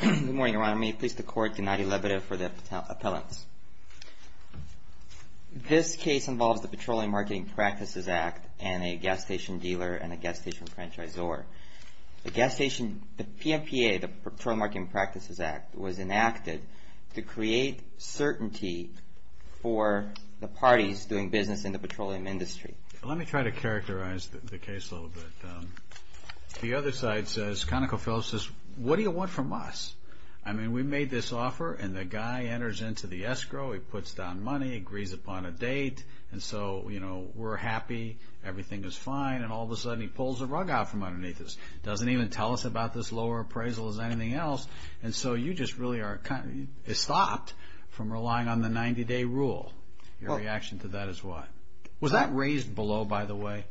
Good morning, Your Honor. May it please the Court, Gennady Lebedev for the appellants. This case involves the Petroleum Marketing Practices Act and a gas station dealer and a gas station franchisor. The PFPA, the Petroleum Marketing Practices Act, was enacted to create certainty for the parties doing business in the petroleum industry. Let me try to characterize the case a little bit. The other side says, Conocophillips says, what do you want from us? I mean, we made this offer and the guy enters into the escrow, he puts down money, agrees upon a date, and so, you know, we're happy, everything is fine, and all of a sudden he pulls the rug out from underneath us. Doesn't even tell us about this lower appraisal as anything else, and so you just really are, it's stopped from relying on the 90-day rule. Your reaction to that is what? Was that raised below, by the way?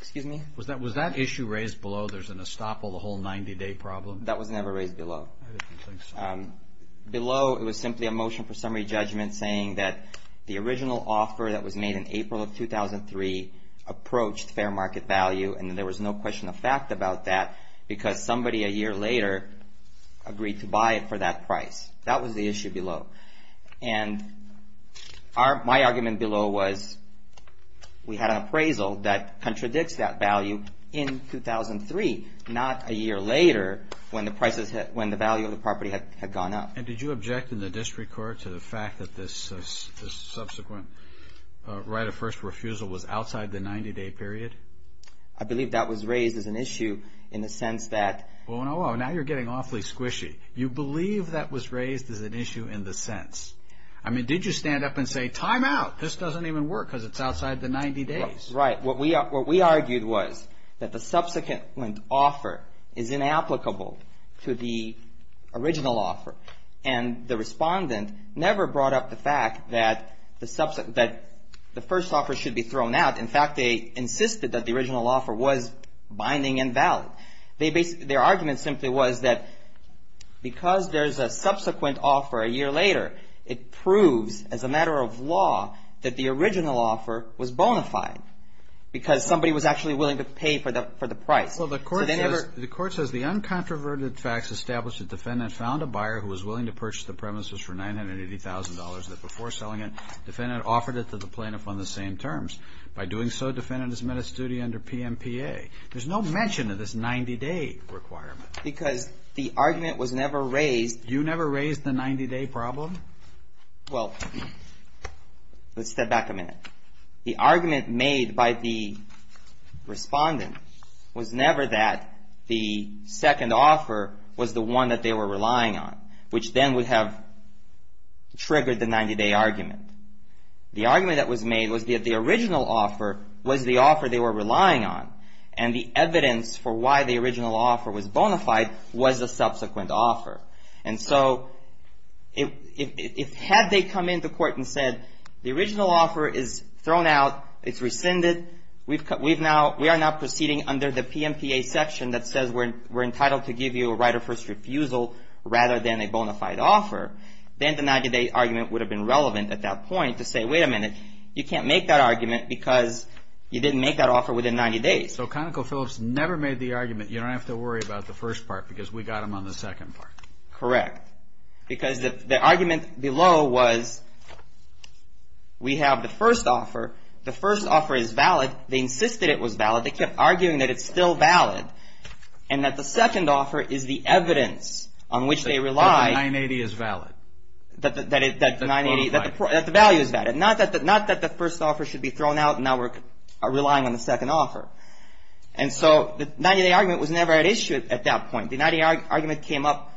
Excuse me? Was that issue raised below, there's an estoppel, the whole 90-day problem? That was never raised below. I didn't think so. Below, it was simply a motion for summary judgment saying that the original offer that was made in April of 2003 approached fair market value, and there was no question of fact about that because somebody a year later agreed to buy it for that price. That was the issue below, and my argument below was we had an appraisal that contradicts that value in 2003, not a year later when the value of the property had gone up. And did you object in the district court to the fact that this subsequent right of first refusal was outside the 90-day period? I believe that was raised as an issue in the sense that... Now you're getting awfully squishy. You believe that was raised as an issue in the sense... I mean, did you stand up and say, time out, this doesn't even work because it's outside the 90 days? Right. What we argued was that the subsequent offer is inapplicable to the original offer, and the respondent never brought up the fact that the first offer should be thrown out. In fact, they insisted that the original offer was binding and valid. Their argument simply was that because there's a subsequent offer a year later, it proves as a matter of law that the original offer was bona fide because somebody was actually willing to pay for the price. Well, the court says, the uncontroverted facts establish that the defendant found a buyer who was willing to purchase the premises for $980,000, that before selling it, the defendant offered it to the plaintiff on the same terms. By doing so, the defendant has met his duty under PMPA. There's no mention of this 90-day requirement. Because the argument was never raised... You never raised the 90-day problem? Well, let's step back a minute. The argument made by the respondent was never that the second offer was the one that they were relying on, which then would have triggered the 90-day argument. The argument that was made was that the original offer was the offer they were relying on, and the evidence for why the original offer was bona fide was the subsequent offer. And so, had they come into court and said, the original offer is thrown out, it's rescinded, we are now proceeding under the PMPA section that says we're entitled to give you a right of first refusal rather than a bona fide offer, then the 90-day argument would have been relevant at that point to say, wait a minute, you can't make that argument because you didn't make that offer within 90 days. So ConocoPhillips never made the argument, you don't have to worry about the first part because we got them on the second part. Correct. Because the argument below was, we have the first offer, the first offer is valid, they insisted it was valid, they kept arguing that it's still valid. And that the second offer is the evidence on which they rely... That the 980 is valid. That the value is valid, not that the first offer should be thrown out and now we're relying on the second offer. And so, the 90-day argument was never at issue at that point. The 90-day argument came up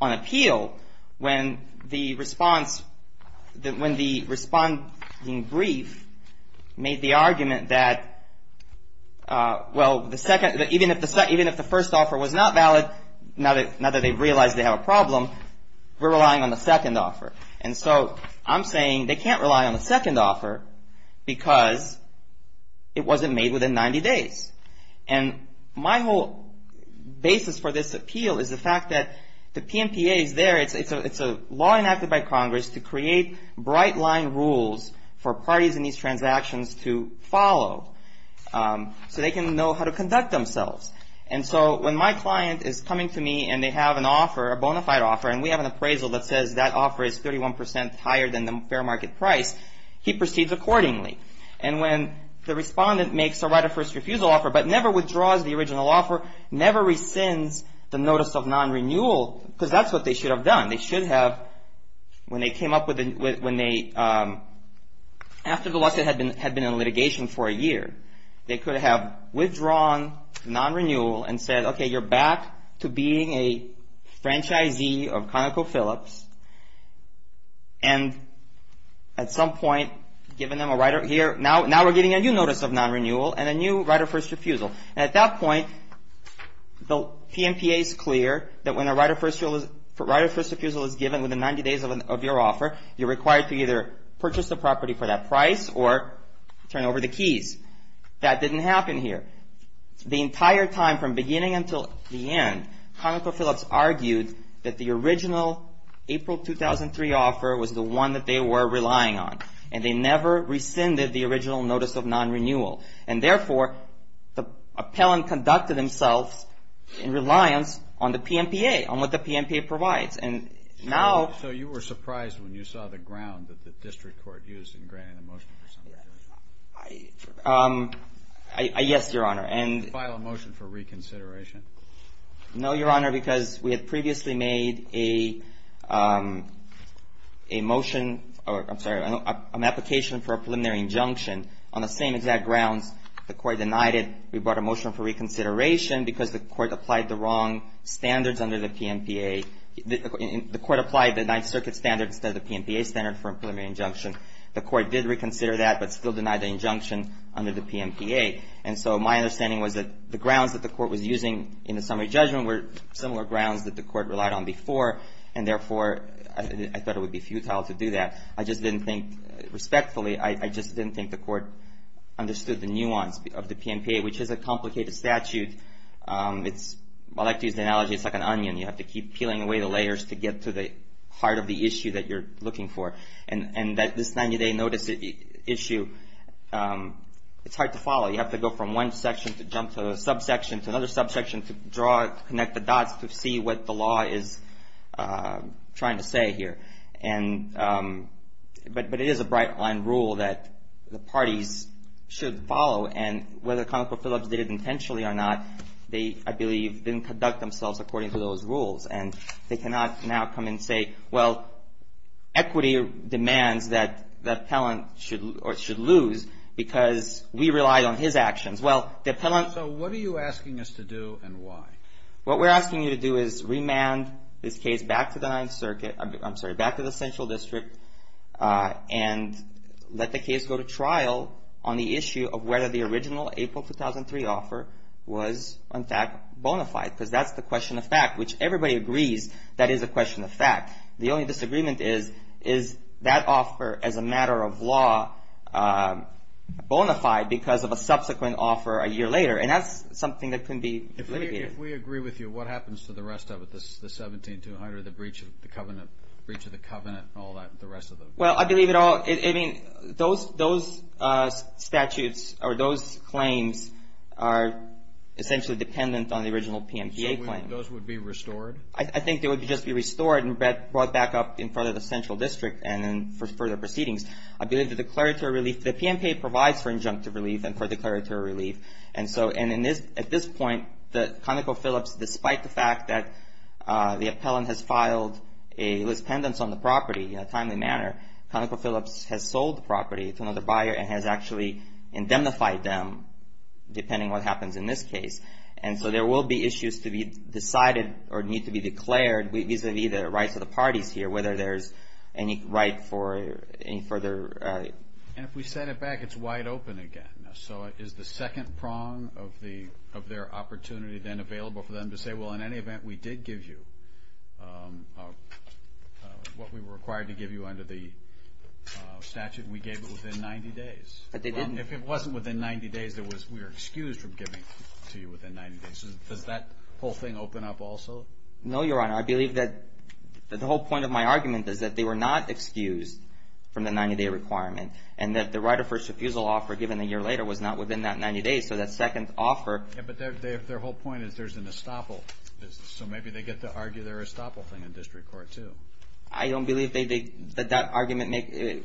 on appeal when the response, when the responding brief made the argument that, well, even if the first offer was not valid, now that they've realized they have a problem, we're relying on the second offer. And so, I'm saying they can't rely on the second offer because it wasn't made within 90 days. And my whole basis for this appeal is the fact that the PNPA is there, it's a law enacted by Congress to create bright line rules for parties in these transactions to follow so they can know how to conduct themselves. And so, when my client is coming to me and they have an offer, a bona fide offer, and we have an appraisal that says that offer is 31% higher than the fair market price, he proceeds accordingly. And when the respondent makes a right of first refusal offer but never withdraws the original offer, never rescinds the notice of non-renewal, because that's what they should have done. They should have, when they came up with, when they, after the lawsuit had been in litigation for a year, they could have withdrawn non-renewal and said, okay, you're back to being a franchisee of ConocoPhillips. And at some point, given them a right of, here, now we're getting a new notice of non-renewal and a new right of first refusal. And at that point, the PNPA is clear that when a right of first refusal is given within 90 days of your offer, you're required to either purchase the property for that price or turn over the keys. That didn't happen here. The entire time, from beginning until the end, ConocoPhillips argued that the original April 2003 offer was the one that they were relying on. And they never rescinded the original notice of non-renewal. And therefore, the appellant conducted themselves in reliance on the PNPA, on what the PNPA provides. And now... Yes, Your Honor, and... File a motion for reconsideration. No, Your Honor, because we had previously made a motion, or I'm sorry, an application for a preliminary injunction on the same exact grounds the court denied it. We brought a motion for reconsideration because the court applied the wrong standards under the PNPA. The court applied the Ninth Circuit standard instead of the PNPA standard for a preliminary injunction. The court did reconsider that, but still denied the injunction under the PNPA. And so my understanding was that the grounds that the court was using in the summary judgment were similar grounds that the court relied on before. And therefore, I thought it would be futile to do that. I just didn't think, respectfully, I just didn't think the court understood the nuance of the PNPA, which is a complicated statute. I like to use the analogy, it's like an onion. You have to keep peeling away the layers to get to the heart of the issue that you're looking for. And this 90-day notice issue, it's hard to follow. You have to go from one section to jump to a subsection, to another subsection, to draw it, to connect the dots, to see what the law is trying to say here. But it is a bright-line rule that the parties should follow. And whether ConocoPhillips did it intentionally or not, they, I believe, didn't conduct themselves according to those rules. And they cannot now come and say, well, equity demands that the appellant should lose because we relied on his actions. Well, the appellant... So what are you asking us to do and why? What we're asking you to do is remand this case back to the 9th Circuit, I'm sorry, back to the Central District, and let the case go to trial on the issue of whether the original April 2003 offer was, in fact, bona fide, because that's the question of fact, which everybody agrees that is a question of fact. The only disagreement is, is that offer, as a matter of law, bona fide because of a subsequent offer a year later? And that's something that can be litigated. If we agree with you, what happens to the rest of it, the 17-200, the breach of the covenant, the breach of the covenant, and all that, the rest of it? Well, I believe it all, I mean, those statutes or those claims are essentially dependent on the original PMCA claim. Those would be restored? I think they would just be restored and brought back up in front of the Central District and then for further proceedings. I believe the declaratory relief, the PMCA provides for injunctive relief and for declaratory relief. And so, and at this point, ConocoPhillips, despite the fact that the appellant has filed a list pendants on the property in a timely manner, ConocoPhillips has sold the property to another buyer and has actually indemnified them, depending what happens in this case. And so, there will be issues to be decided or need to be declared vis-a-vis the rights of the parties here, whether there's any right for any further... And if we set it back, it's wide open again. So, is the second prong of their opportunity then available for them to say, well, in any event, we did give you what we were required to give you under the statute, and we gave it within 90 days? But they didn't... They didn't give it within 90 days. Does that whole thing open up also? No, Your Honor. I believe that the whole point of my argument is that they were not excused from the 90 day requirement and that the right of first refusal offer given a year later was not within that 90 days. So, that second offer... Yeah, but their whole point is there's an estoppel. So maybe they get to argue their estoppel thing in district court too. I don't believe that that argument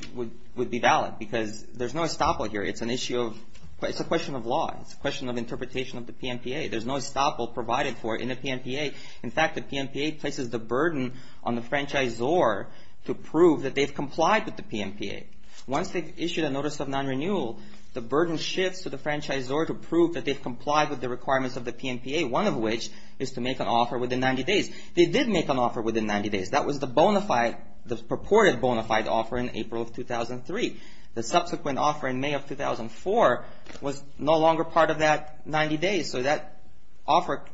would be valid because there's no estoppel here. It's an issue of... It's a question of law. It's a question of interpretation of the PNPA. There's no estoppel provided for in the PNPA. In fact, the PNPA places the burden on the franchisor to prove that they've complied with the PNPA. Once they've issued a notice of non-renewal, the burden shifts to the franchisor to prove that they've complied with the requirements of the PNPA, one of which is to make an offer within 90 days. They did make an offer within 90 days. That was the purported bona fide offer in April of 2003. The subsequent offer in May of 2004 was no longer part of that 90 days. So that offer,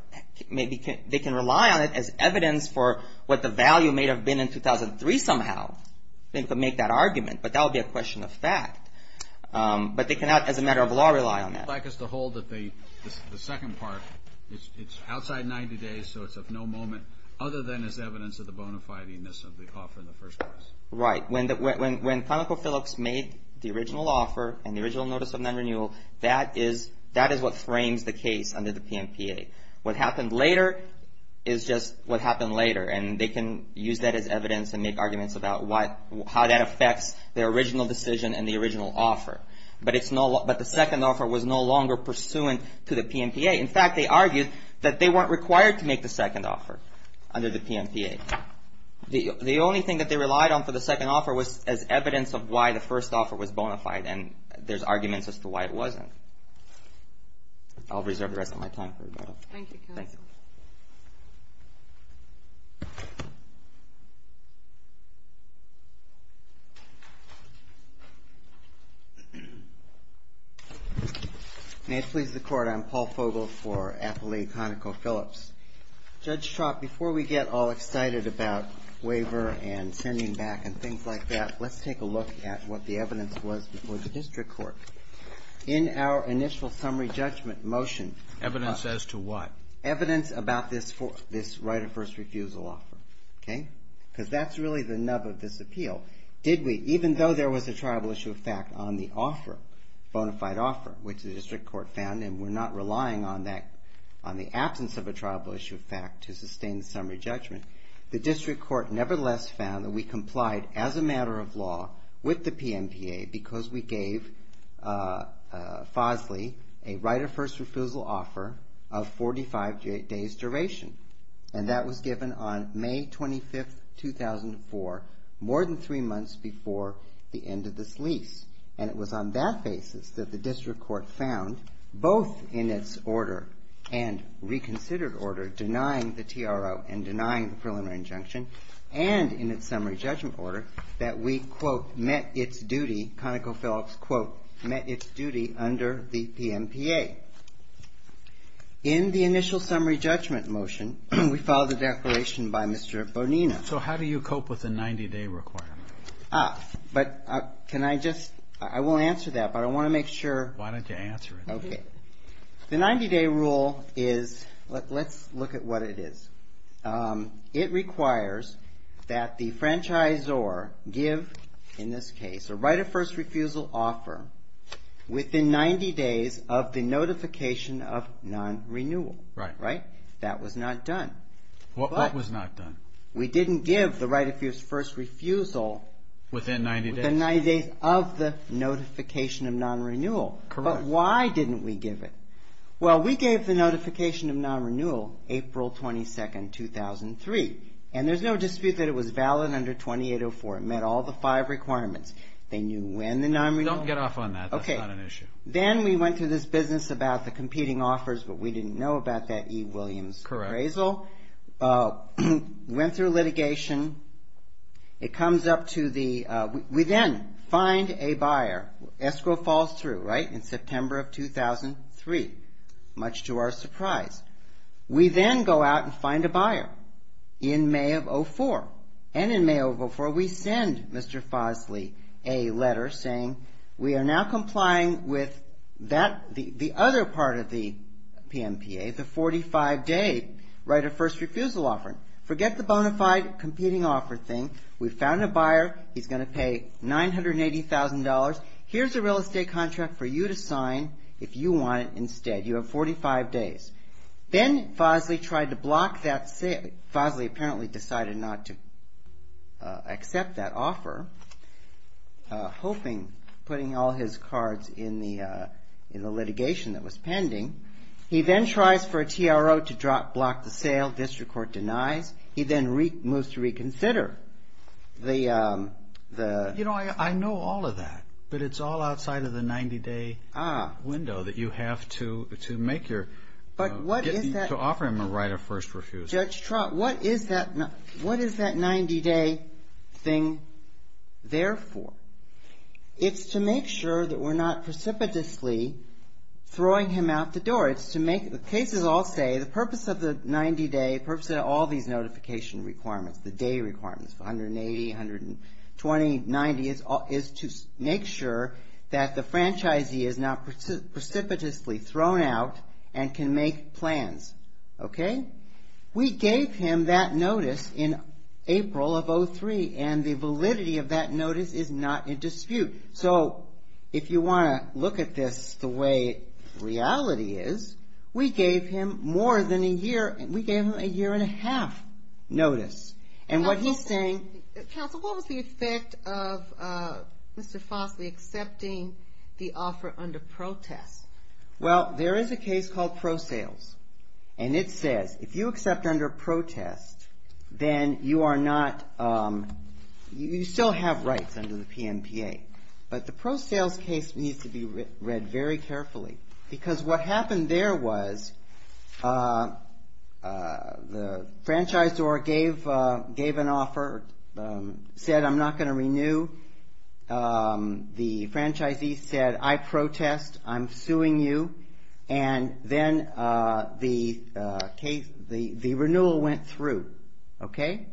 they can rely on it as evidence for what the value may have been in 2003 somehow. They could make that argument, but that would be a question of fact. But they cannot, as a matter of law, rely on that. I'd like us to hold that the second part, it's outside 90 days, so it's of no moment other than as evidence of the bona fide-ness of the offer in the first place. Right. When ConocoPhillips made the original offer and the original notice of non-renewal, that is what frames the case under the PNPA. What happened later is just what happened later, and they can use that as evidence and make arguments about how that affects their original decision and the original offer. But the second offer was no longer pursuant to the PNPA. In fact, they argued that they weren't required to make the second offer under the PNPA. The only thing that they relied on for the second offer was as evidence of why the first offer was bona fide, and there's arguments as to why it wasn't. I'll reserve the rest of my time for rebuttal. Thank you, counsel. Thank you. May it please the Court, I'm Paul Fogel for Appalachia ConocoPhillips. Judge Trott, before we get all excited about waiver and sending back and things like that, let's take a look at what the evidence was before the district court. In our initial summary judgment motion- Evidence as to what? Evidence about this right of first refusal offer, okay? Because that's really the nub of this appeal. Did we, even though there was a tribal issue of fact on the offer, bona fide offer, which the district court found, and we're not relying on that, on the absence of a tribal issue of fact to sustain the summary judgment, the district court nevertheless found that we complied, as a matter of law, with the PNPA because we gave Fosley a right of first refusal offer of 45 days duration. And that was given on May 25th, 2004, more than three months before the end of this lease. And it was on that basis that the district court found, both in its order and reconsidered order, denying the TRO and denying the preliminary injunction, and in its summary judgment order, that we, quote, met its duty, ConocoPhillips, quote, met its duty under the PNPA. In the initial summary judgment motion, we filed a declaration by Mr. Bonina. So how do you cope with a 90-day requirement? But can I just, I won't answer that, but I want to make sure. Why don't you answer it? Okay. The 90-day rule is, let's look at what it is. It requires that the franchisor give, in this case, a right of first refusal offer within 90 days of the notification of non-renewal. Right. Right? That was not done. What was not done? We didn't give the right of first refusal within 90 days of the notification of non-renewal. Correct. But why didn't we give it? Well, we gave the notification of non-renewal April 22nd, 2003, and there's no dispute that it was valid under 2804. It met all the five requirements. They knew when the non-renewal... Don't get off on that. Okay. That's not an issue. Then we went to this business about the competing offers, but we didn't know about that E. Williams appraisal. Correct. The appraisal went through litigation. It comes up to the... We then find a buyer. Escrow falls through, right, in September of 2003, much to our surprise. We then go out and find a buyer in May of 04. And in May of 04, we send Mr. Fosley a letter saying, we are now complying with the other part of the PMPA, the 45-day right of first refusal offer. Forget the bona fide competing offer thing. We found a buyer. He's going to pay $980,000. Here's a real estate contract for you to sign if you want it instead. You have 45 days. Then Fosley tried to block that... Fosley apparently decided not to accept that offer, hoping, putting all his cards in the litigation that was pending. He then tries for a TRO to block the sale. District court denies. He then moves to reconsider the... You know, I know all of that, but it's all outside of the 90-day window that you have to make your... But what is that... ...to offer him a right of first refusal. What is that 90-day thing there for? It's to make sure that we're not precipitously throwing him out the door. It's to make... The cases all say the purpose of the 90-day, the purpose of all these notification requirements, the day requirements, 180, 120, 90, is to make sure that the franchisee is not precipitously thrown out and can make plans, okay? We gave him that notice in April of 2003, and the validity of that notice is not in dispute. So if you want to look at this the way reality is, we gave him more than a year... We gave him a year and a half notice. And what he's saying... Counsel, what was the effect of Mr. Fosley accepting the offer under protest? Well, there is a case called ProSales, and it says if you accept under protest, then you are not... You still have rights under the PNPA, but the ProSales case needs to be read very carefully because what happened there was the franchisor gave an offer, said, I'm not going to renew. The franchisee said, I protest. I'm suing you. And then the renewal went through, okay?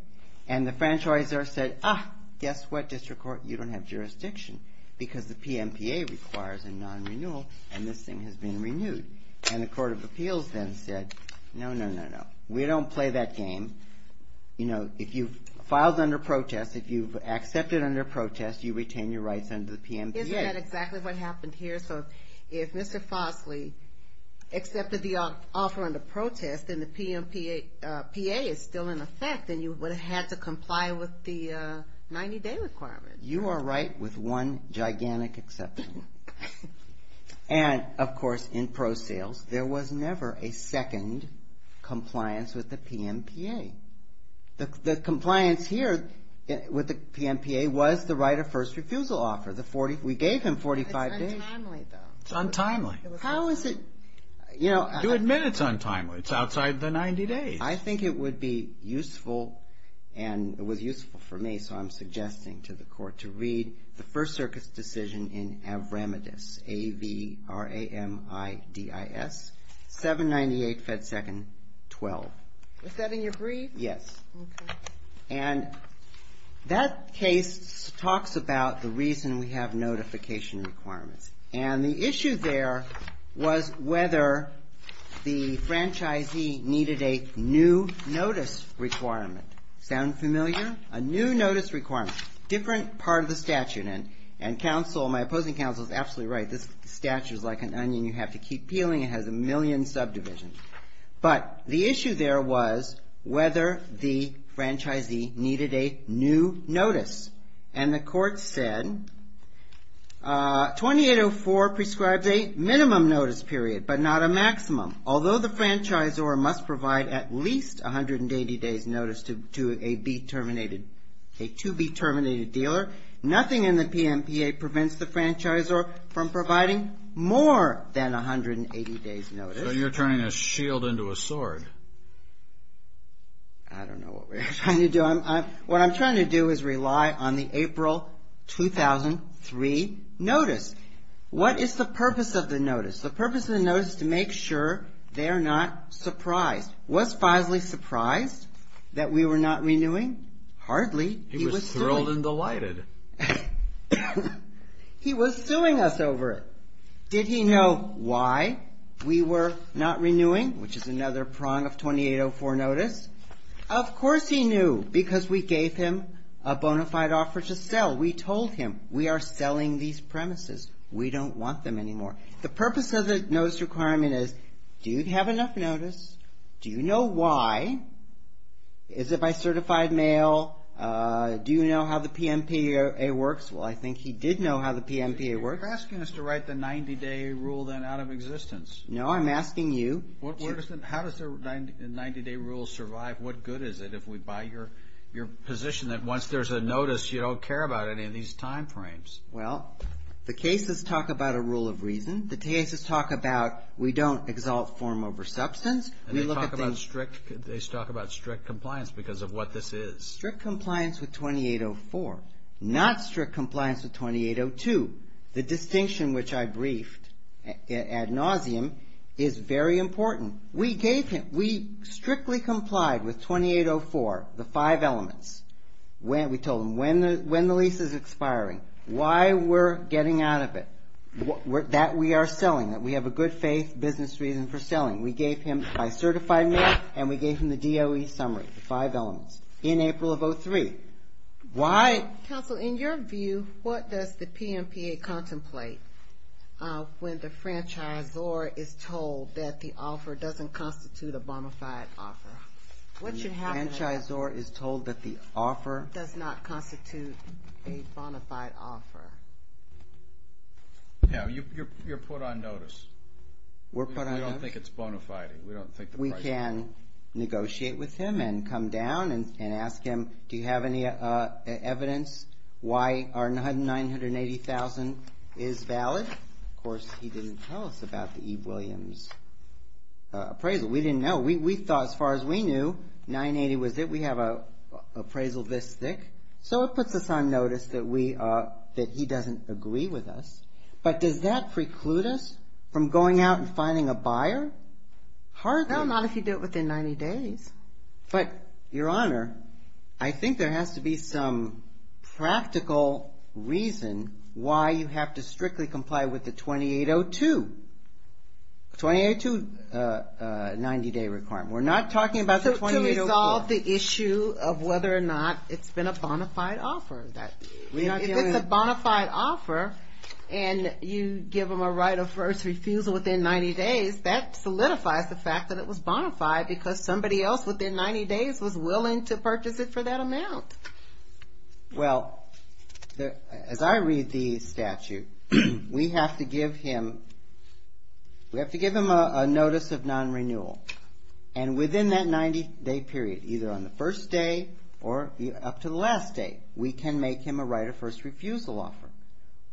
And the franchisor said, ah, guess what, District Court? You don't have jurisdiction because the PNPA requires a non-renewal, and this thing has been renewed. And the Court of Appeals then said, no, no, no, no. We don't play that game. You know, if you've filed under protest, if you've accepted under protest, you retain your rights under the PNPA. Isn't that exactly what happened here? So, if Mr. Fosley accepted the offer under protest, and the PNPA is still in effect, then you would have had to comply with the 90-day requirement. You are right with one gigantic exception. And, of course, in ProSales, there was never a second compliance with the PNPA. The compliance here with the PNPA was the right of first refusal offer. We gave him 45 days. It's untimely, though. It's untimely. How is it, you know... You admit it's untimely. It's outside the 90 days. I think it would be useful, and it was useful for me, so I'm suggesting to the Court to read the First Circuit's decision in Avramidis, A-V-R-A-M-I-D-I-S, 798 Fed Second 12. Was that in your brief? Yes. And that case talks about the reason we have notification requirements, and the issue there was whether the franchisee needed a new notice requirement. Sound familiar? A new notice requirement. Different part of the statute, and my opposing counsel is absolutely right. This statute is like an onion you have to keep peeling. It has a million subdivisions, but the issue there was whether the franchisee needed a new notice, and the Court said 2804 prescribes a minimum notice period, but not a maximum. Although the franchisor must provide at least 180 days notice to a B-terminated, a to-be-terminated dealer, nothing in the PMPA prevents the franchisor from providing more than 180 days notice. But you're turning a shield into a sword. I don't know what we're trying to do. What I'm trying to do is rely on the April 2003 notice. What is the purpose of the notice? The purpose of the notice is to make sure they're not surprised. Was Feisley surprised that we were not renewing? Hardly. He was thrilled and delighted. He was suing us over it. Did he know why we were not renewing, which is another prong of 2804 notice? Of course he knew, because we gave him a bona fide offer to sell. We told him, we are selling these premises. We don't want them anymore. The purpose of the notice requirement is, do you have enough notice? Do you know why? Is it by certified mail? Do you know how the PMPA works? Well, I think he did know how the PMPA works. You're asking us to write the 90-day rule then out of existence. No, I'm asking you. How does the 90-day rule survive? What good is it if we buy your position that once there's a notice, you don't care about any of these time frames? Well, the cases talk about a rule of reason. The cases talk about, we don't exalt form over substance. They talk about strict compliance because of what this is. Strict compliance with 2804, not strict compliance with 2802. The distinction which I briefed ad nauseum is very important. We gave him, we strictly complied with 2804, the five elements. We told him when the lease is expiring, why we're getting out of it, that we are selling, that we have a good faith business reason for selling. We gave him by certified mail and we gave him the DOE summary, the five elements, in April of 03. Why? Counsel, in your view, what does the PMPA contemplate when the franchisor is told that the offer doesn't constitute a bonafide offer? When the franchisor is told that the offer does not constitute a bonafide offer. Yeah, you're put on notice. We're put on notice? We don't think it's bonafiding. We don't think the price is. We can negotiate with him and come down and ask him, do you have any evidence why our $980,000 is valid? Of course, he didn't tell us about the Eve Williams appraisal. We didn't know. We thought, as far as we knew, 980 was it. We have an appraisal this thick. So it puts us on notice that we, that he doesn't agree with us. But does that preclude us from going out and finding a buyer? Hardly. No, not if you do it within 90 days. But, Your Honor, I think there has to be some practical reason why you have to strictly comply with the 2802, 2802 90-day requirement. We're not talking about the 2804. To resolve the issue of whether or not it's been a bonafide offer. If it's a bonafide offer and you give him a right of first refusal within 90 days, that solidifies the fact that it was bonafide because somebody else within 90 days was willing to purchase it for that amount. Well, as I read the statute, we have to give him a notice of non-renewal. And within that 90-day period, either on the first day or up to the last day, we can make him a right of first refusal offer.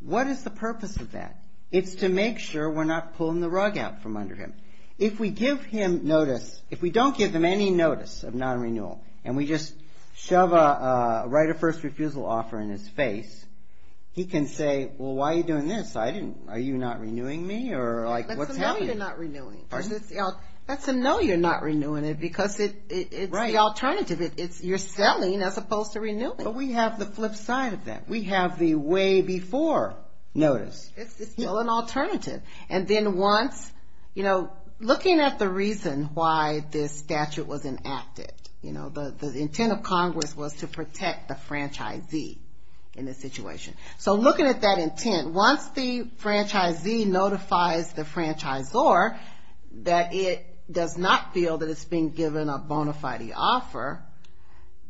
What is the purpose of that? It's to make sure we're not pulling the rug out from under him. If we give him notice, if we don't give him any notice of non-renewal and we just shove a right of first refusal offer in his face, he can say, well, why are you doing this? I didn't, are you not renewing me? Or like, what's happening? That's a no, you're not renewing. That's a no, you're not renewing it because it's the alternative. It's, you're selling as opposed to renewing. But we have the flip side of that. We have the way before notice. It's still an alternative. And then once, you know, looking at the reason why this statute was enacted, you know, the intent of Congress was to protect the franchisee in this situation. So looking at that intent, once the franchisee notifies the franchisor that it does not feel that it's been given a bona fide offer,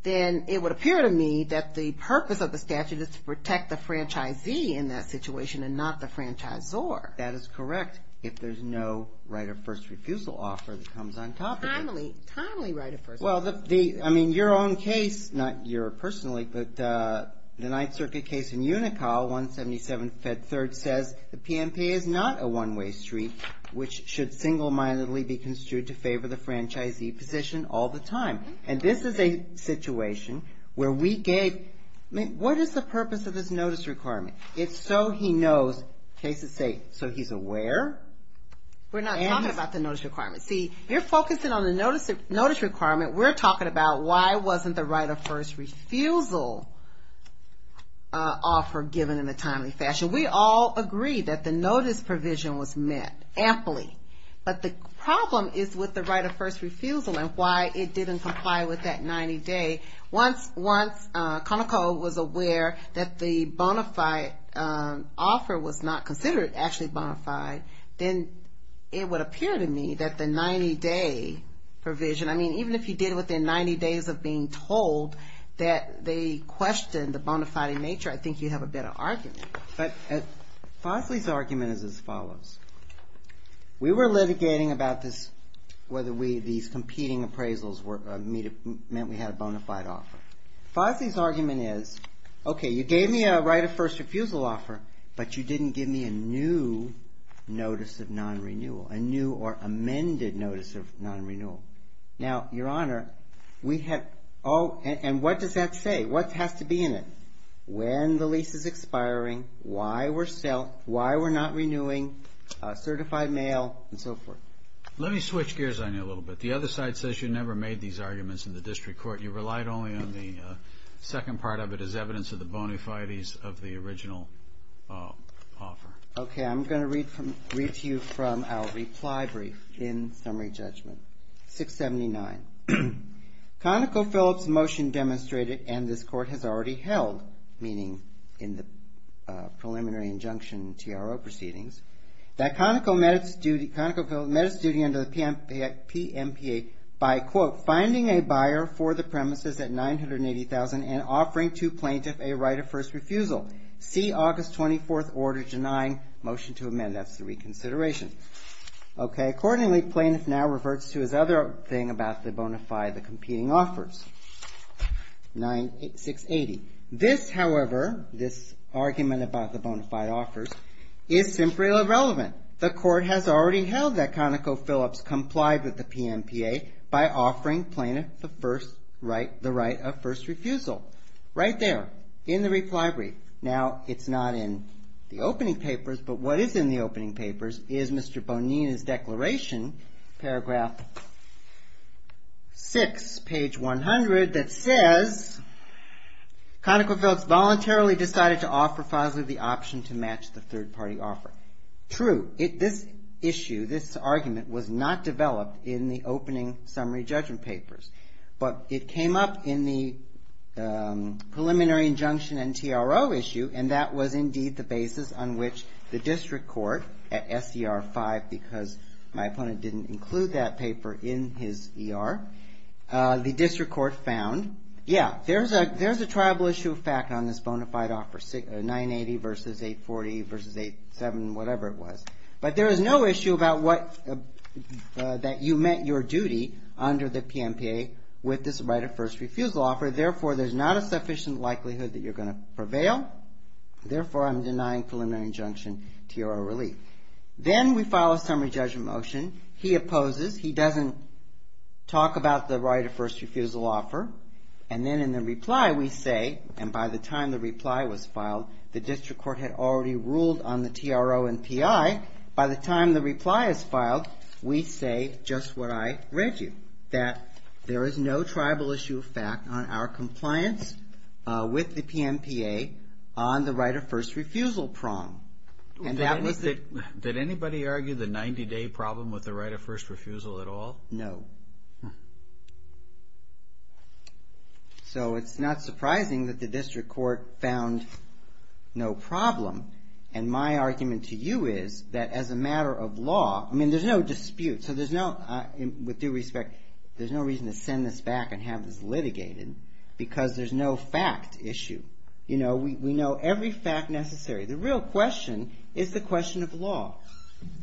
then it would appear to me that the purpose of the statute is to protect the franchisee in that situation and not the franchisor. That is correct. If there's no right of first refusal offer that comes on top of it. Timely, timely right of first refusal. Well, the, I mean, your own case, not your personally, but the Ninth Circuit case in Unicole, 177 Fed 3rd says, the PMP is not a one-way street, which should single-mindedly be construed to favor the franchisee position all the time. And this is a situation where we gave, what is the purpose of this notice requirement? It's so he knows, cases say, so he's aware. We're not talking about the notice requirement. See, you're focusing on the notice requirement. We're talking about why wasn't the right of first refusal offer given in a timely fashion. We all agree that the notice provision was met, amply. But the problem is with the right of first refusal and why it didn't comply with that 90-day. Once Conoco was aware that the bona fide offer was not considered actually bona fide, then it would appear to me that the 90-day provision, I mean, even if you did within 90 days of being told that they questioned the bona fide nature, I think you'd have a better argument. But Fosley's argument is as follows. We were litigating about this, whether these competing appraisals meant we had a bona fide offer. Fosley's argument is, okay, you gave me a right of first refusal offer, but you didn't give me a new notice of non-renewal, a new or amended notice of non-renewal. Now, Your Honor, we have, oh, and what does that say? What has to be in it? When the lease is expiring, why we're not renewing, certified mail, and so forth. Let me switch gears on you a little bit. The other side says you never made these arguments in the district court. You relied only on the second part of it as evidence of the bona fides of the original offer. Okay, I'm gonna read to you from our reply brief in summary judgment, 679. ConocoPhillips motion demonstrated, and this court has already held, meaning in the preliminary injunction TRO proceedings, that ConocoPhillips met its duty under the PMPA by, quote, finding a buyer for the premises at 980,000 and offering to plaintiff a right of first refusal. See August 24th order denying motion to amend. That's the reconsideration. Okay, accordingly, plaintiff now reverts to his other thing about the bona fide, the competing offers, 9680. This, however, this argument about the bona fide offers is simply irrelevant. The court has already held that ConocoPhillips complied with the PMPA by offering plaintiff the right of first refusal. Right there in the reply brief. Now, it's not in the opening papers, but what is in the opening papers is Mr. Bonina's declaration, paragraph six, page 100, that says ConocoPhillips voluntarily decided to offer Fosley the option to match the third party offer. True, this issue, this argument was not developed in the opening summary judgment papers, but it came up in the preliminary injunction and TRO issue, and that was indeed the basis on which the district court, at SCR five, because my opponent didn't include that paper in his ER, the district court found, yeah, there's a triable issue of fact on this bona fide offer, 980 versus 840 versus eight, seven, whatever it was. But there is no issue that you met your duty under the PMPA with this right of first refusal offer. Therefore, there's not a sufficient likelihood that you're gonna prevail. Therefore, I'm denying preliminary injunction, TRO relief. Then we file a summary judgment motion. He opposes, he doesn't talk about the right of first refusal offer, and then in the reply we say, and by the time the reply was filed, the district court had already ruled on the TRO and PI, by the time the reply is filed, we say just what I read you, that there is no triable issue of fact on our compliance with the PMPA on the right of first refusal prong. Did anybody argue the 90 day problem with the right of first refusal at all? No. So it's not surprising that the district court found no problem, and my argument to you is that as a matter of law, I mean there's no dispute, so there's no, with due respect, there's no reason to send this back and have this litigated, because there's no fact issue. You know, we know every fact necessary. The real question is the question of law.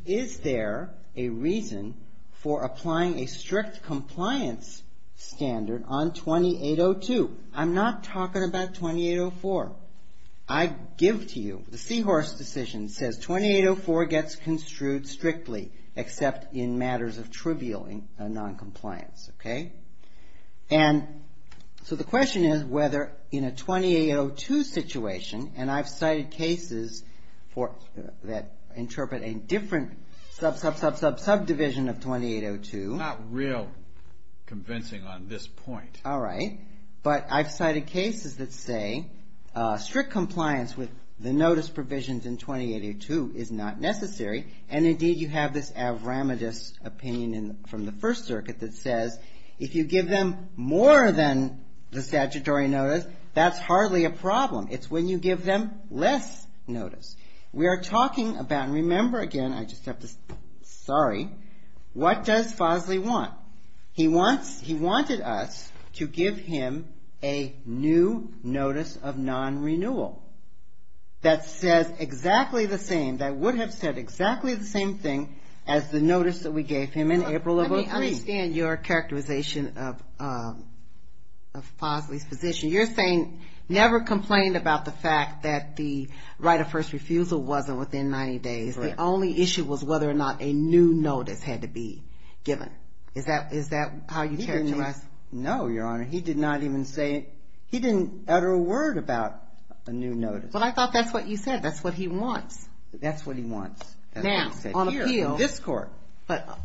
Is there a reason for applying a strict compliance standard on 2802? I'm not talking about 2804. I give to you, the Seahorse decision says 2804 gets construed strictly, except in matters of trivial noncompliance, okay? And so the question is whether in a 2802 situation, and I've cited cases that interpret a different subdivision of 2802. Not real convincing on this point. All right. But I've cited cases that say strict compliance with the notice provisions in 2802 is not necessary, and indeed you have this avramitous opinion from the First Circuit that says if you give them more than the statutory notice, that's hardly a problem. It's when you give them less notice. We are talking about, and remember again, I just have to, sorry, what does Fosley want? He wants, he wanted us to give him a new notice of non-renewal that says exactly the same, that would have said exactly the same thing as the notice that we gave him in April of 03. Let me understand your characterization of Fosley's position. You're saying never complained about the fact that the right of first refusal wasn't within 90 days. The only issue was whether or not a new notice had to be given. Is that how you characterize? No, Your Honor, he did not even say, he didn't utter a word about a new notice. But I thought that's what you said, that's what he wants. That's what he wants. Now, on appeal. In this court,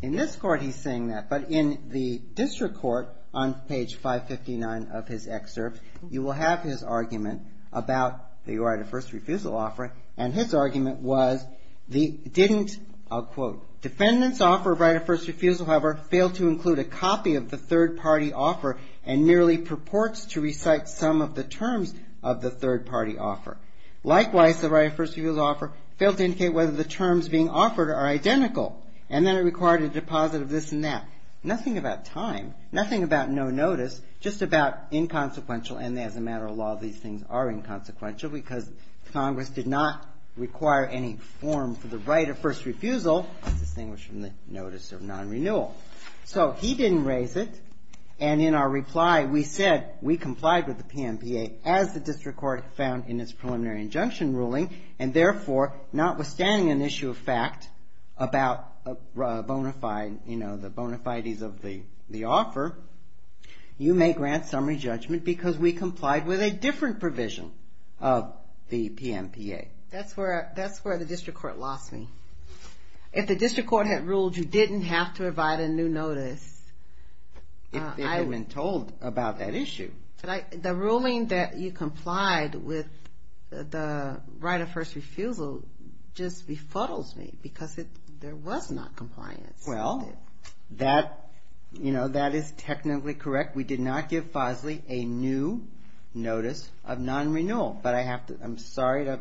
in this court he's saying that, but in the district court, on page 559 of his excerpt, you will have his argument about the right of first refusal offer, and his argument was the didn't, I'll quote, defendant's offer of right of first refusal, however, failed to include a copy of the third party offer, and nearly purports to recite some of the terms of the third party offer. Likewise, the right of first refusal offer failed to indicate whether the terms being offered are identical, and that it required a deposit of this and that. Nothing about time, nothing about no notice, just about inconsequential, and as a matter of law, these things are inconsequential, because Congress did not require any form for the right of first refusal, distinguished from the notice of non-renewal. So, he didn't raise it, and in our reply we said, we complied with the PMPA, as the district court found in its preliminary injunction ruling, and therefore, notwithstanding an issue of fact about the bona fides of the offer, you may grant summary judgment, because we complied with a different provision of the PMPA. That's where the district court lost me. If the district court had ruled you didn't have to provide a new notice. If they had been told about that issue. The ruling that you complied with the right of first refusal just befuddles me, because there was not compliance. Well, that is technically correct. We did not give Fosley a new notice of non-renewal, but I have to, I'm sorry to...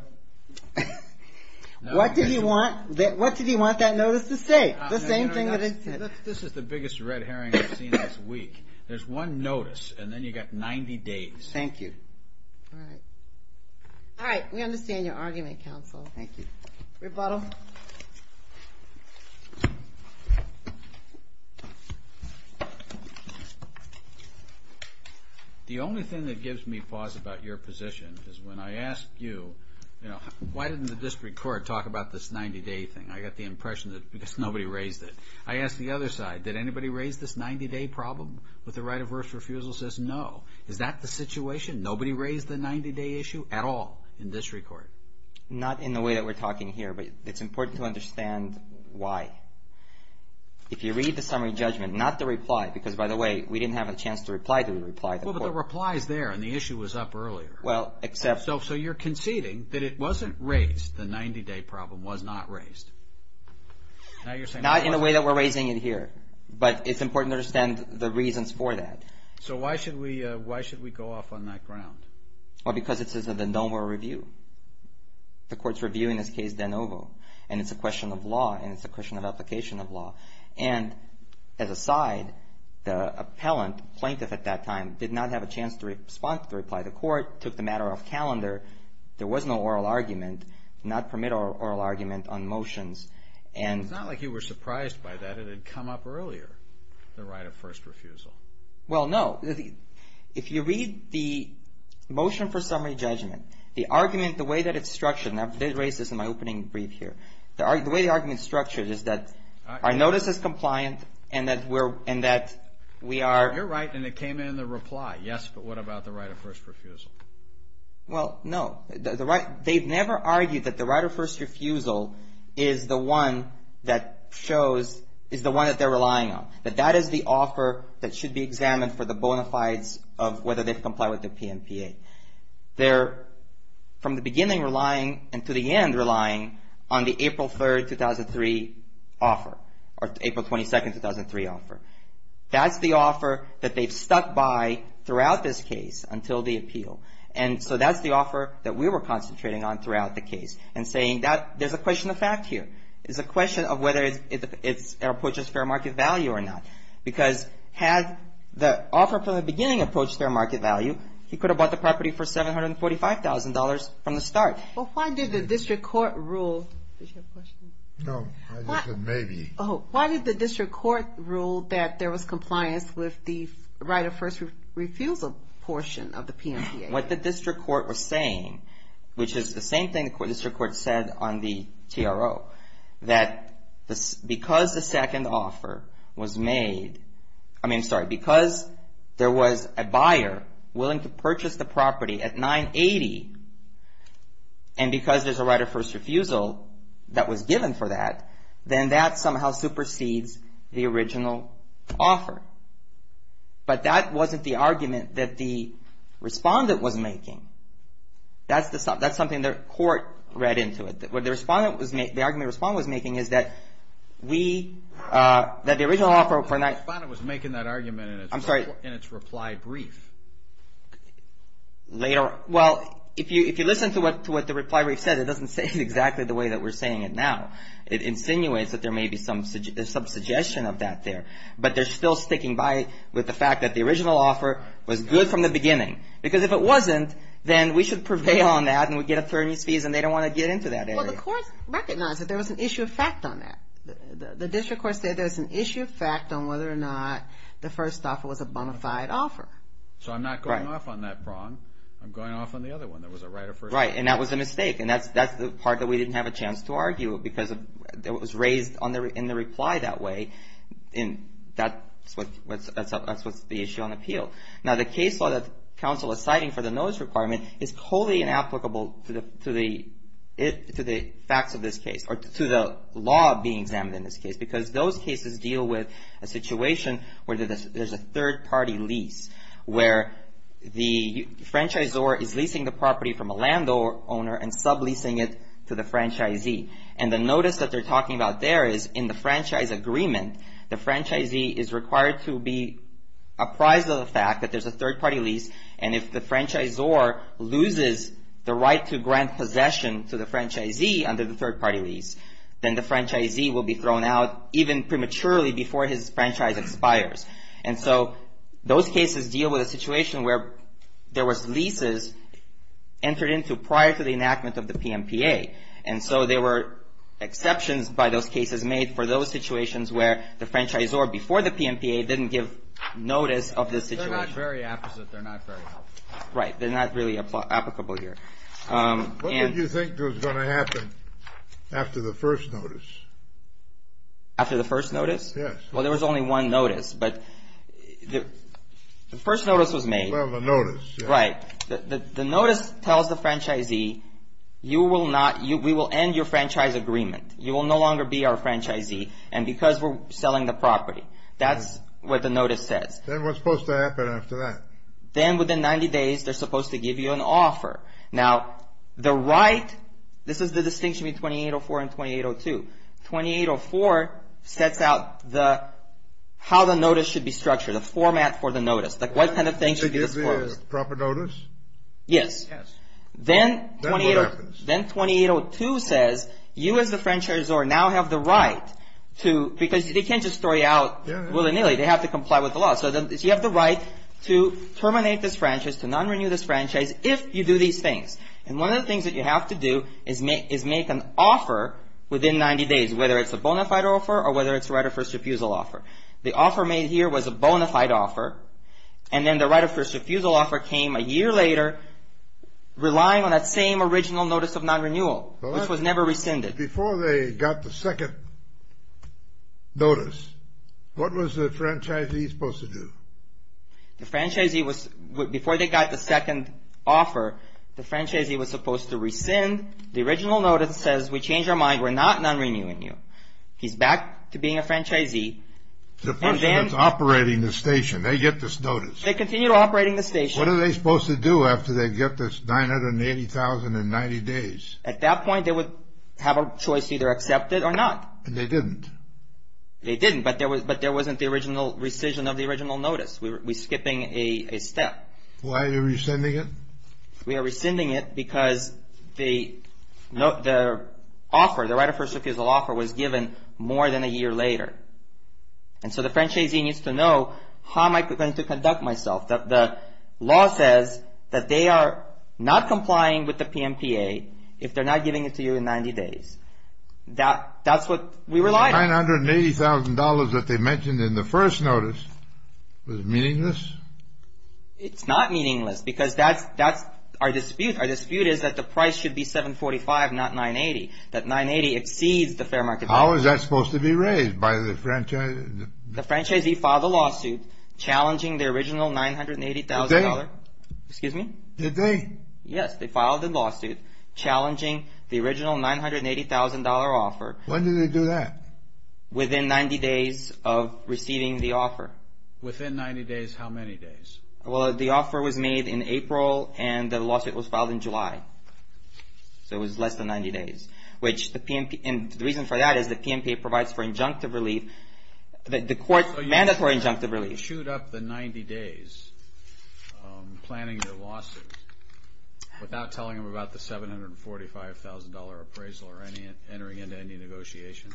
What did he want that notice to say? The same thing that I said. This is the biggest red herring I've seen this week. There's one notice, and then you got 90 days. Thank you. All right, we understand your argument, counsel. Thank you. Rebuttal. The only thing that gives me pause about your position is when I asked you, why didn't the district court talk about this 90-day thing? I got the impression that because nobody raised it. I asked the other side, did anybody raise this 90-day problem with the right of first refusal? Says no. Is that the situation? Nobody raised the 90-day issue at all in district court? Not in the way that we're talking here, but it's important to understand why. If you read the summary judgment, not the reply, because by the way, we didn't have a chance to reply to the reply. Well, but the reply's there, and the issue was up earlier. Well, except- So you're conceding that it wasn't raised, the 90-day problem was not raised. Now you're saying- Not in the way that we're raising it here, but it's important to understand the reasons for that. So why should we go off on that ground? Well, because it's a de novo review. The court's reviewing this case de novo, and it's a question of law, and it's a question of application of law. And as a side, the appellant, plaintiff at that time, did not have a chance to respond to the reply. The court took the matter off calendar. There was no oral argument, not permit oral argument on motions. And- It's not like you were surprised by that. It had come up earlier, the right of first refusal. Well, no. If you read the motion for summary judgment, the argument, the way that it's structured, and I did raise this in my opening brief here. The way the argument's structured is that our notice is compliant, and that we are- Yes, but what about the right of first refusal? Well, no. They've never argued that the right of first refusal is the one that shows, is the one that they're relying on, that that is the offer that should be examined for the bona fides of whether they comply with the PMPA. They're, from the beginning, relying, and to the end, relying on the April 3rd, 2003 offer, or April 22nd, 2003 offer. That's the offer that they've stuck by throughout this case, until the appeal. And so that's the offer that we were concentrating on throughout the case, and saying that, there's a question of fact here. It's a question of whether it approaches fair market value or not. Because had the offer from the beginning approached fair market value, he could have bought the property for $745,000 from the start. Well, why did the district court rule, did you have a question? No, I just said maybe. Oh, why did the district court rule that there was compliance with the right of first refusal portion of the PMPA? What the district court was saying, which is the same thing the district court said on the TRO, that because the second offer was made, I mean, sorry, because there was a buyer willing to purchase the property at 980, and because there's a right of first refusal that was given for that, then that somehow supersedes the original offer. But that wasn't the argument that the respondent was making. That's something the court read into it. What the argument the respondent was making is that we, that the original offer for 980- The respondent was making that argument in its reply brief. Later, well, if you listen to what the reply brief said, it doesn't say it exactly the way that we're saying it now. It insinuates that there may be some suggestion of that there. But they're still sticking by it with the fact that the original offer was good from the beginning. Because if it wasn't, then we should prevail on that, and we'd get attorney's fees, and they don't want to get into that area. Well, the court recognized that there was an issue of fact on that. The district court said there was an issue of fact on whether or not the first offer was a bona fide offer. So I'm not going off on that prong. I'm going off on the other one, there was a right of first refusal. Right, and that was a mistake, and that's the part that we didn't have a chance to argue, because it was raised in the reply that way, and that's what's the issue on appeal. Now, the case law that counsel is citing for the notice requirement is wholly inapplicable to the facts of this case, or to the law being examined in this case, because those cases deal with a situation where there's a third-party lease, where the franchisor is leasing the property from a landowner and subleasing it to the franchisee, and the notice that they're talking about there is in the franchise agreement, the franchisee is required to be apprised of the fact that there's a third-party lease, and if the franchisor loses the right to grant possession to the franchisee under the third-party lease, then the franchisee will be thrown out and so those cases deal with a situation where there was leases entered into prior to the enactment of the PMPA, and so there were exceptions by those cases made for those situations where the franchisor before the PMPA didn't give notice of the situation. They're not very apposite, they're not very applicable. Right, they're not really applicable here. What did you think was gonna happen after the first notice? After the first notice? Yes. Well, there was only one notice, but the first notice was made. Well, the notice, yeah. Right, the notice tells the franchisee, you will not, we will end your franchise agreement. You will no longer be our franchisee, and because we're selling the property. That's what the notice says. Then what's supposed to happen after that? Then within 90 days, they're supposed to give you an offer. Now, the right, this is the distinction between 2804 and 2802. 2804 sets out how the notice should be structured, a format for the notice, like what kind of thing should be disclosed. Proper notice? Yes. Then 2802 says you, as the franchisor, now have the right to, because they can't just throw you out willy-nilly. They have to comply with the law, so you have the right to terminate this franchise, to non-renew this franchise if you do these things, and one of the things that you have to do is make an offer within 90 days, whether it's a bona fide offer or whether it's a right of first refusal offer. The offer made here was a bona fide offer, and then the right of first refusal offer came a year later, relying on that same original notice of non-renewal, which was never rescinded. Before they got the second notice, what was the franchisee supposed to do? the franchisee was supposed to rescind the original notice that says, we changed our mind, we're not non-renewing you. He's back to being a franchisee. The person that's operating the station, they get this notice. They continue operating the station. What are they supposed to do after they get this 980,090 days? At that point, they would have a choice, either accept it or not. And they didn't. They didn't, but there wasn't the rescission of the original notice. We're skipping a step. Why are you rescinding it? We are rescinding it because the offer, the right of first refusal offer was given more than a year later. And so the franchisee needs to know how am I going to conduct myself? The law says that they are not complying with the PMPA if they're not giving it to you in 90 days. That's what we relied on. The $980,000 that they mentioned in the first notice was meaningless? It's not meaningless because that's our dispute. Our dispute is that the price should be 745, not 980. That 980 exceeds the fair market value. How is that supposed to be raised by the franchisee? The franchisee filed a lawsuit challenging the original $980,000. Did they? Excuse me? Did they? Yes, they filed a lawsuit challenging the original $980,000 offer. When did they do that? Within 90 days of receiving the offer. Within 90 days, how many days? Well, the offer was made in April and the lawsuit was filed in July. So it was less than 90 days. Which the PMP, and the reason for that is the PMPA provides for injunctive relief. The court's mandatory injunctive relief. So you can't shoot up the 90 days planning your lawsuit without telling them about the $745,000 appraisal or entering into any negotiations?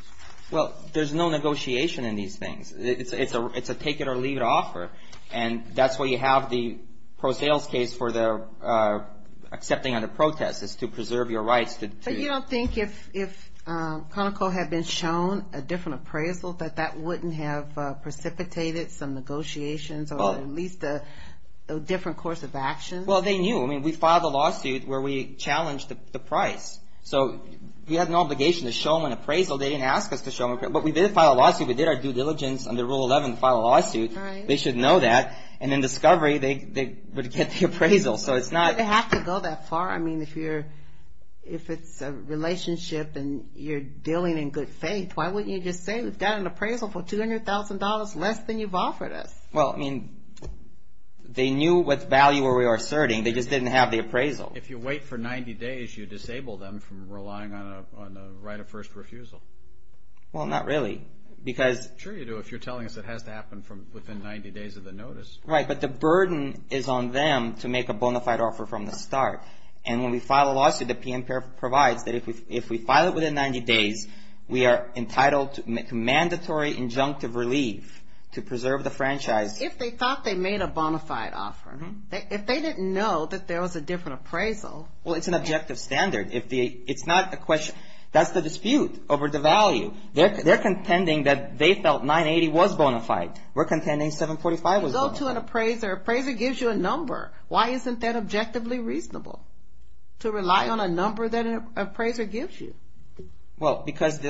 Well, there's no negotiation in these things. It's a take it or leave it offer. And that's why you have the pro sales case for the accepting of the protest is to preserve your rights. But you don't think if Conoco had been shown a different appraisal that that wouldn't have precipitated some negotiations or at least a different course of action? Well, they knew. I mean, we filed a lawsuit where we challenged the price. So we had an obligation to show them an appraisal. They didn't ask us to show them an appraisal. But we did file a lawsuit, we did our due diligence under Rule 11 to file a lawsuit. They should know that. And in discovery, they would get the appraisal. So it's not- Do they have to go that far? I mean, if it's a relationship and you're dealing in good faith, why wouldn't you just say we've got an appraisal for $200,000 less than you've offered us? Well, I mean, they knew what value we were asserting. They just didn't have the appraisal. If you wait for 90 days, you disable them from relying on a right of first refusal. Well, not really, because- Sure you do. If you're telling us it has to happen from within 90 days of the notice. Right, but the burden is on them to make a bona fide offer from the start. And when we file a lawsuit, the PM provides that if we file it within 90 days, we are entitled to mandatory injunctive relief to preserve the franchise. If they thought they made a bona fide offer. If they didn't know that there was a different appraisal. Well, it's an objective standard. It's not a question. That's the dispute over the value. They're contending that they felt 980 was bona fide. We're contending 745 was bona fide. You go to an appraiser, appraiser gives you a number. Why isn't that objectively reasonable? To rely on a number that an appraiser gives you. Well, because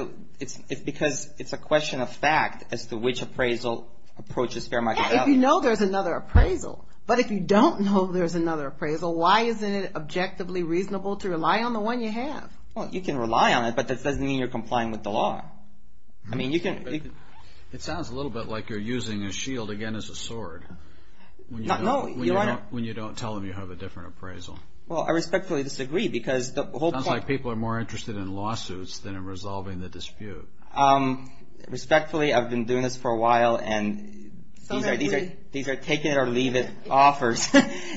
it's a question of fact as to which appraisal approaches fair market value. If you know there's another appraisal, but if you don't know there's another appraisal, why isn't it objectively reasonable to rely on the one you have? Well, you can rely on it, but that doesn't mean you're complying with the law. I mean, you can. It sounds a little bit like you're using a shield, again, as a sword. No, you don't want to. When you don't tell them you have a different appraisal. Well, I respectfully disagree because the whole point. It sounds like people are more interested in lawsuits than in resolving the dispute. Respectfully, I've been doing this for a while, and these are take it or leave it offers.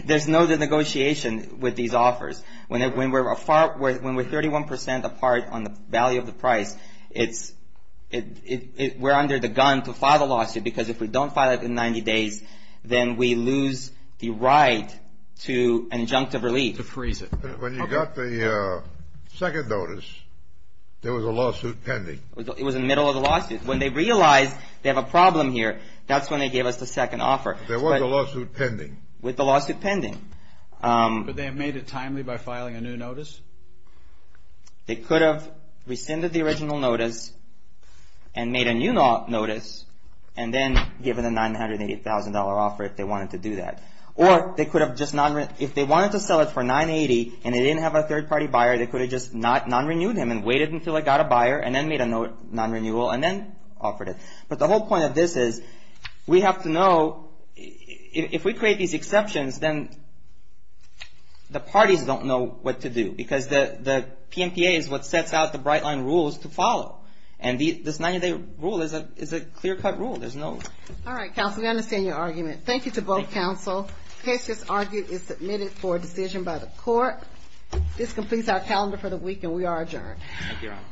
There's no negotiation with these offers. When we're 31% apart on the value of the price, it's, we're under the gun to file the lawsuit because if we don't file it in 90 days, then we lose the right to an injunctive relief. To freeze it. When you got the second notice, there was a lawsuit pending. It was in the middle of the lawsuit. When they realized they have a problem here, that's when they gave us the second offer. There was a lawsuit pending. With the lawsuit pending. Would they have made it timely by filing a new notice? They could have rescinded the original notice and made a new notice, and then given a $980,000 offer if they wanted to do that. Or they could have just, if they wanted to sell it for 980 and they didn't have a third party buyer, they could have just non-renewed him and waited until they got a buyer and then made a non-renewal and then offered it. But the whole point of this is, we have to know, if we create these exceptions, then the parties don't know what to do. Because the PMPA is what sets out the Brightline rules to follow. And this 90-day rule is a clear-cut rule. There's no... All right, counsel, we understand your argument. Thank you to both counsel. Case just argued is submitted for a decision by the court. This completes our calendar for the week and we are adjourned.